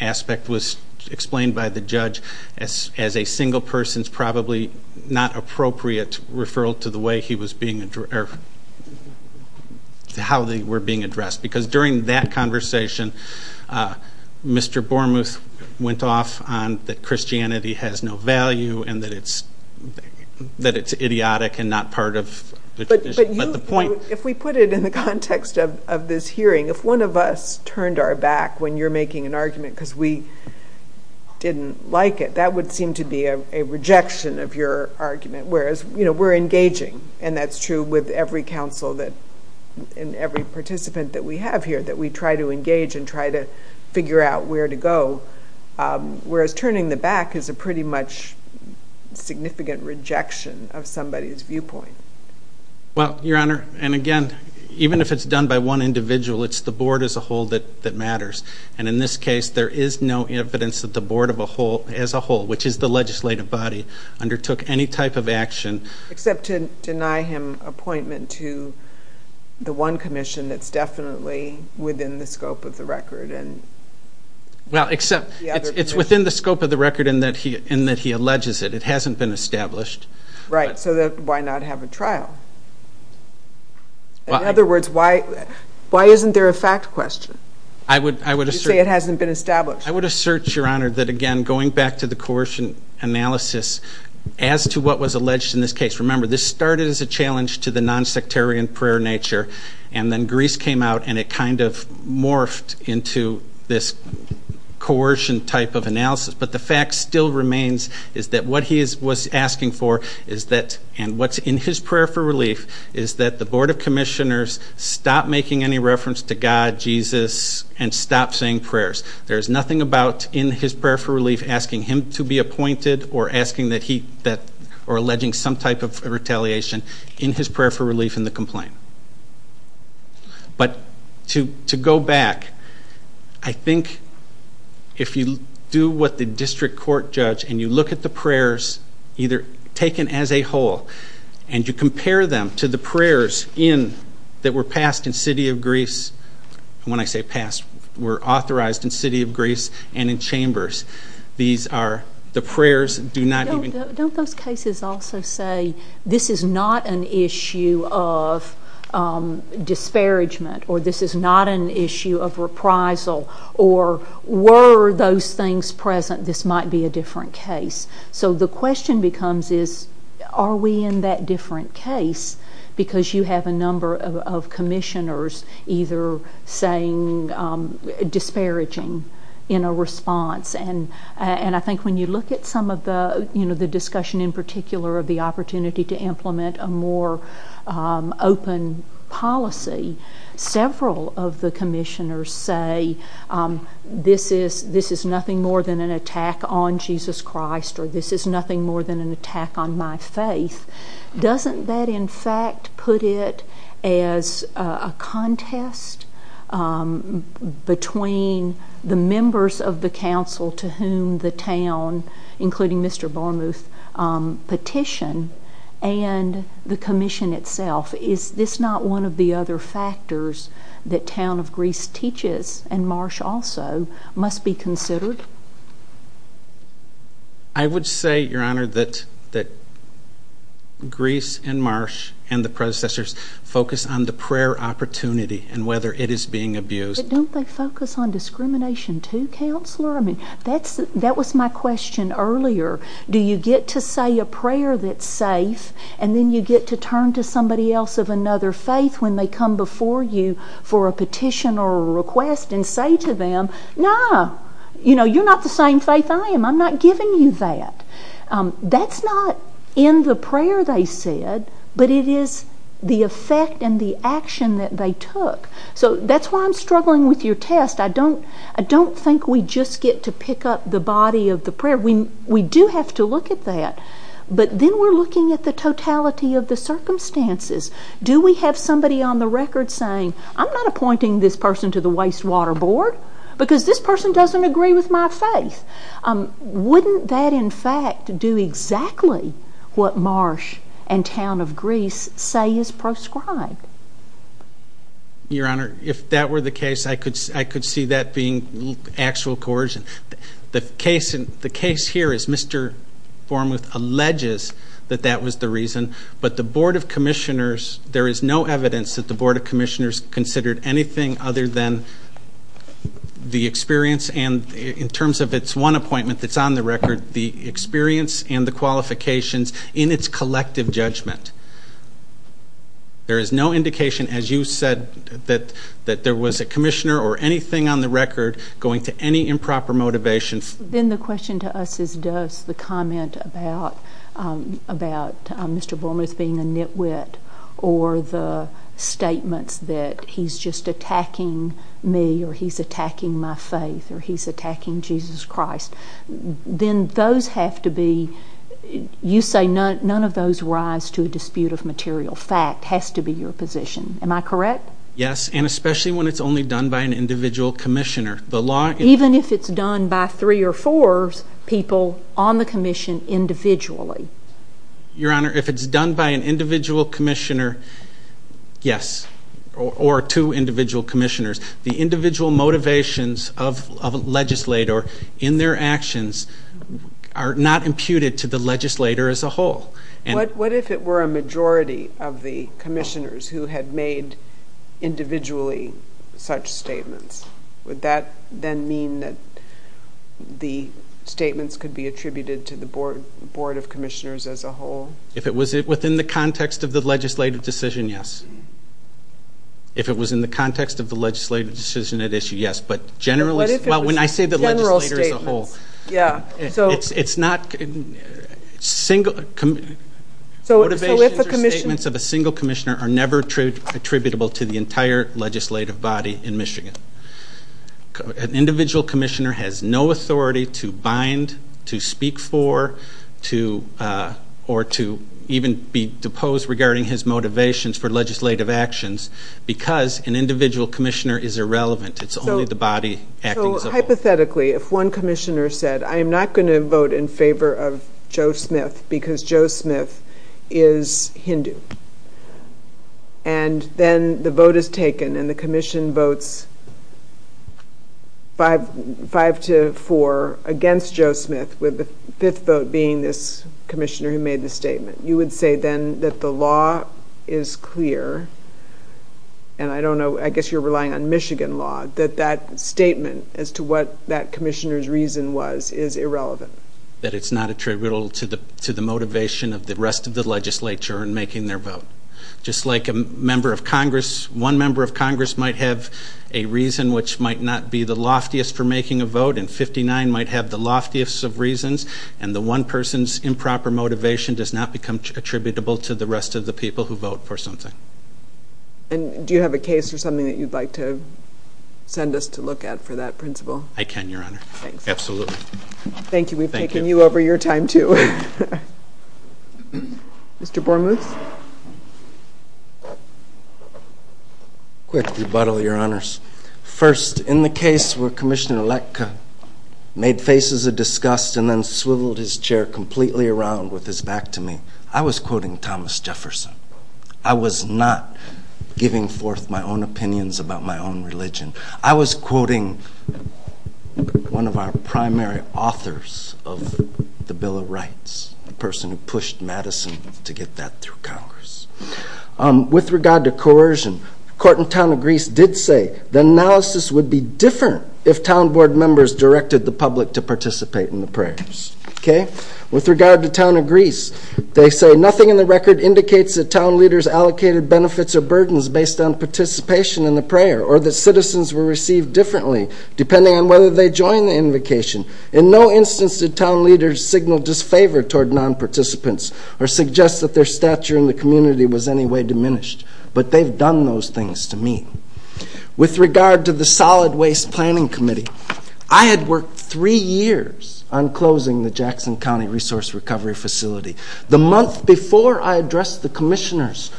aspect was explained by the judge as a single person's probably not appropriate referral to the way he was being addressed, or how they were being addressed, because during that conversation, Mr. Bormuth went off on that Christianity has no value and that it's idiotic and not part of the tradition. If we put it in the context of this hearing, if one of us turned our back when you're making an argument because we didn't like it, that would seem to be a rejection of your argument, whereas we're engaging, and that's true with every council and every participant that we have here, that we try to engage and try to figure out where to go, whereas turning the back is a pretty much significant rejection of somebody's viewpoint. Well, Your Honor, and again, even if it's done by one individual, it's the board as a whole that matters, and in this case, there is no evidence that the board as a whole, which is the legislative body, undertook any type of action. Except to deny him appointment to the one commission that's definitely within the scope of the record. Well, except it's within the scope of the record in that he alleges it. It hasn't been established. Right, so why not have a trial? In other words, why isn't there a fact question? You say it hasn't been established. I would assert, Your Honor, that again, going back to the coercion analysis, as to what was alleged in this case, remember, this started as a challenge to the nonsectarian prayer nature, and then Greece came out and it kind of morphed into this coercion type of analysis. But the fact still remains is that what he was asking for is that, and what's in his prayer for relief, is that the board of commissioners stop making any reference to God, Jesus, and stop saying prayers. There's nothing about in his prayer for relief asking him to be appointed or alleging some type of retaliation in his prayer for relief in the complaint. But to go back, I think if you do what the district court judge, and you look at the prayers, either taken as a whole, and you compare them to the prayers that were passed in the city of Greece, and when I say passed, were authorized in the city of Greece and in chambers, the prayers do not even... Don't those cases also say, this is not an issue of disparagement, or this is not an issue of reprisal, or were those things present, this might be a different case? So the question becomes is, are we in that different case? Because you have a number of commissioners either saying disparaging in a response, and I think when you look at some of the discussion in particular of the opportunity to implement a more open policy, several of the commissioners say this is nothing more than an attack on Jesus Christ, or this is nothing more than an attack on my faith. Doesn't that in fact put it as a contest between the members of the council to whom the town, including Mr. Barmuth, petition, and the commission itself? Is this not one of the other factors that Town of Greece teaches, and Marsh also, must be considered? I would say, Your Honor, that Greece and Marsh and the predecessors focus on the prayer opportunity and whether it is being abused. But don't they focus on discrimination too, Counselor? I mean, that was my question earlier. Do you get to say a prayer that's safe, and then you get to turn to somebody else of another faith when they come before you for a petition or a request and say to them, No, you're not the same faith I am. I'm not giving you that. That's not in the prayer they said, but it is the effect and the action that they took. So that's why I'm struggling with your test. I don't think we just get to pick up the body of the prayer. We do have to look at that. But then we're looking at the totality of the circumstances. Do we have somebody on the record saying, I'm not appointing this person to the wastewater board because this person doesn't agree with my faith. Wouldn't that, in fact, do exactly what Marsh and Town of Greece say is prescribed? Your Honor, if that were the case, I could see that being actual coercion. The case here is Mr. Bormuth alleges that that was the reason, but the Board of Commissioners, there is no evidence that the Board of Commissioners considered anything other than the experience and in terms of its one appointment that's on the record, the experience and the qualifications in its collective judgment. There is no indication, as you said, that there was a commissioner or anything on the record going to any improper motivation. Then the question to us is does the comment about Mr. Bormuth being a nitwit or the statements that he's just attacking me or he's attacking my faith or he's attacking Jesus Christ, then those have to be, you say none of those rise to a dispute of material fact has to be your position. Am I correct? Yes, and especially when it's only done by an individual commissioner. Even if it's done by three or four people on the commission individually? Your Honor, if it's done by an individual commissioner, yes, or two individual commissioners, the individual motivations of a legislator in their actions are not imputed to the legislator as a whole. What if it were a majority of the commissioners who had made individually such statements? Would that then mean that the statements could be attributed to the Board of Commissioners as a whole? If it was within the context of the legislative decision, yes. If it was in the context of the legislative decision at issue, yes, but generally, well, when I say the legislator as a whole, it's not single, Motivations or statements of a single commissioner are never attributable to the entire legislative body in Michigan. An individual commissioner has no authority to bind, to speak for, or to even be deposed regarding his motivations for legislative actions because an individual commissioner is irrelevant. Hypothetically, if one commissioner said, I am not going to vote in favor of Joe Smith because Joe Smith is Hindu, and then the vote is taken and the commission votes five to four against Joe Smith, with the fifth vote being this commissioner who made the statement, you would say then that the law is clear, and I don't know, I guess you're relying on Michigan law, that that statement as to what that commissioner's reason was is irrelevant. That it's not attributable to the motivation of the rest of the legislature in making their vote. Just like a member of Congress, one member of Congress might have a reason which might not be the loftiest for making a vote, and 59 might have the loftiest of reasons, and the one person's improper motivation does not become attributable to the rest of the people who vote for something. And do you have a case or something that you'd like to send us to look at for that principle? I can, Your Honor. Thanks. Absolutely. Thank you. We've taken you over your time, too. Mr. Bormuth. Quick rebuttal, Your Honors. First, in the case where Commissioner Leck made faces of disgust and then swiveled his chair completely around with his back to me, I was quoting Thomas Jefferson. I was not giving forth my own opinions about my own religion. I was quoting one of our primary authors of the Bill of Rights, the person who pushed Madison to get that through Congress. With regard to coercion, the Court in Town of Greece did say the analysis would be different if town board members directed the public to participate in the prayers. With regard to Town of Greece, they say, nothing in the record indicates that town leaders allocated benefits or burdens based on participation in the prayer or that citizens were received differently depending on whether they joined the invocation. In no instance did town leaders signal disfavor toward non-participants or suggest that their stature in the community was any way diminished. But they've done those things to me. With regard to the Solid Waste Planning Committee, I had worked three years on closing the Jackson County Resource Recovery Facility. The month before I addressed the commissioners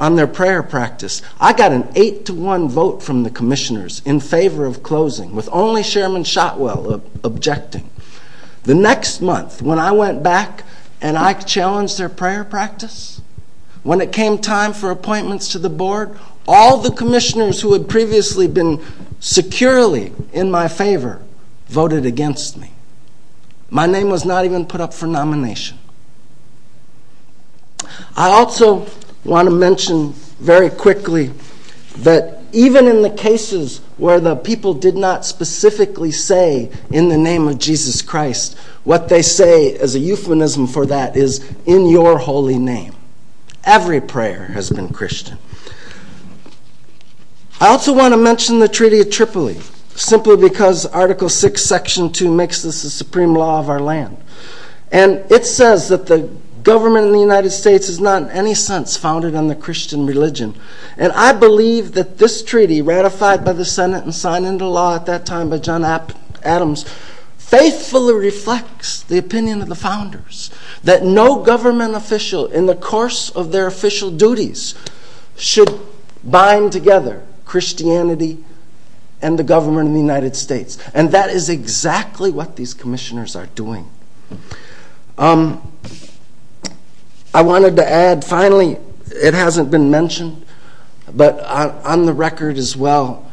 on their prayer practice, I got an eight-to-one vote from the commissioners in favor of closing, with only Chairman Shotwell objecting. The next month, when I went back and I challenged their prayer practice, when it came time for appointments to the board, all the commissioners who had previously been securely in my favor voted against me. My name was not even put up for nomination. I also want to mention very quickly that even in the cases where the people did not specifically say, in the name of Jesus Christ, what they say as a euphemism for that is, in your holy name. Every prayer has been Christian. I also want to mention the Treaty of Tripoli, simply because Article 6, Section 2 makes this the supreme law of our land. And it says that the government in the United States is not in any sense founded on the Christian religion. And I believe that this treaty, ratified by the Senate and signed into law at that time by John Adams, faithfully reflects the opinion of the founders that no government official, in the course of their official duties, should bind together Christianity and the government of the United States. And that is exactly what these commissioners are doing. I wanted to add, finally, it hasn't been mentioned, but on the record as well,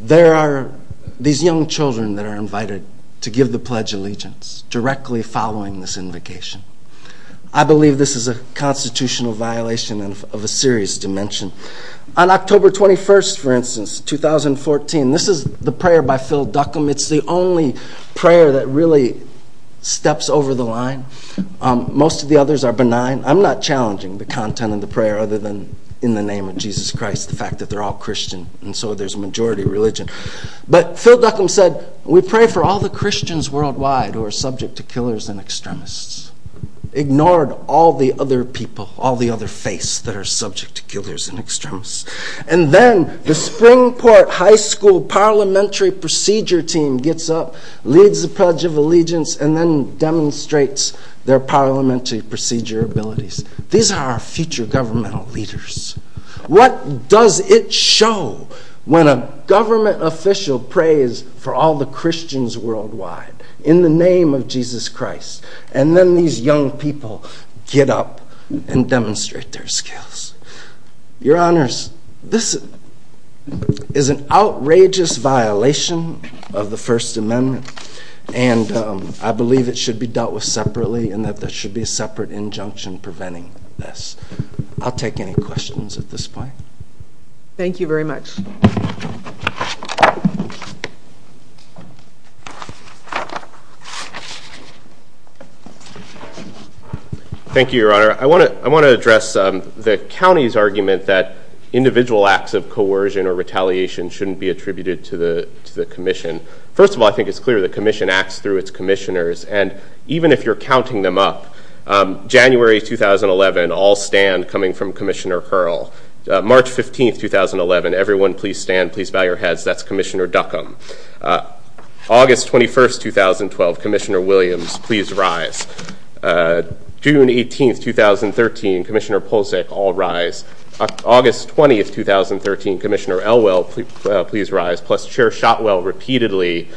there are these young children that are invited to give the Pledge of Allegiance, directly following this invocation. I believe this is a constitutional violation of a serious dimension. On October 21st, for instance, 2014, this is the prayer by Phil Duckham. It's the only prayer that really steps over the line. Most of the others are benign. I'm not challenging the content of the prayer, other than in the name of Jesus Christ, the fact that they're all Christian, and so there's a majority religion. But Phil Duckham said, we pray for all the Christians worldwide who are subject to killers and extremists. Ignored all the other people, all the other faiths that are subject to killers and extremists. And then the Springport High School parliamentary procedure team gets up, leads the Pledge of Allegiance, and then demonstrates their parliamentary procedure abilities. These are our future governmental leaders. What does it show when a government official prays for all the Christians worldwide in the name of Jesus Christ, and then these young people get up and demonstrate their skills? Your Honors, this is an outrageous violation of the First Amendment, and I believe it should be dealt with separately, and that there should be a separate injunction preventing this. I'll take any questions at this point. Thank you very much. Thank you, Your Honor. I want to address the county's argument that individual acts of coercion or retaliation shouldn't be attributed to the commission. First of all, I think it's clear the commission acts through its commissioners, and even if you're counting them up, January 2011, all stand, coming from Commissioner Curl. March 15, 2011, everyone please stand. Please bow your heads. That's Commissioner Duckham. August 21, 2012, Commissioner Williams, please rise. June 18, 2013, Commissioner Polsek, all rise. August 20, 2013, Commissioner Elwell, please rise, plus Chair Shotwell repeatedly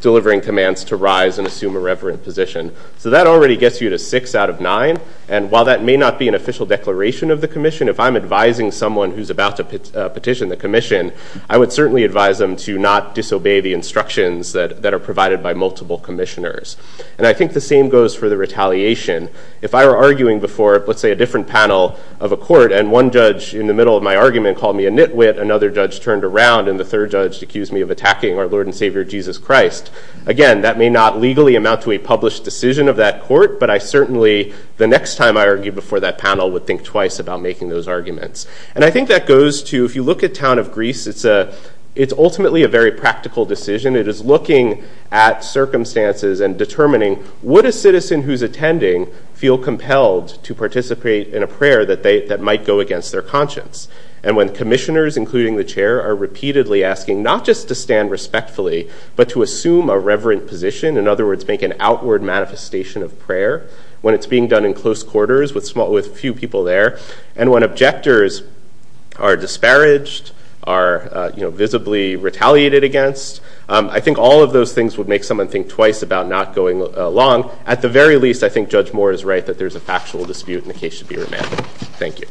delivering commands to rise and assume a reverent position. So that already gets you to six out of nine, and while that may not be an official declaration of the commission, if I'm advising someone who's about to petition the commission, I would certainly advise them to not disobey the instructions that are provided by multiple commissioners. And I think the same goes for the retaliation. If I were arguing before, let's say, a different panel of a court, and one judge in the middle of my argument called me a nitwit, another judge turned around, and the third judge accused me of attacking our Lord and Savior Jesus Christ, again, that may not legally amount to a published decision of that court, but I certainly, the next time I argue before that panel, would think twice about making those arguments. And I think that goes to, if you look at Town of Greece, it's ultimately a very practical decision. It is looking at circumstances and determining, would a citizen who's attending feel compelled to participate in a prayer that might go against their conscience? And when commissioners, including the Chair, are repeatedly asking not just to stand respectfully, but to assume a reverent position, in other words, make an outward manifestation of prayer, when it's being done in close quarters with few people there, and when objectors are disparaged, are visibly retaliated against, I think all of those things would make someone think twice about not going along. At the very least, I think Judge Moore is right that there's a factual dispute, and the case should be remanded. Thank you.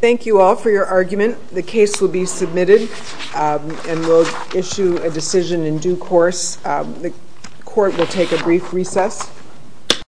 Thank you all for your argument. The case will be submitted, and we'll issue a decision in due course. The court will take a brief recess.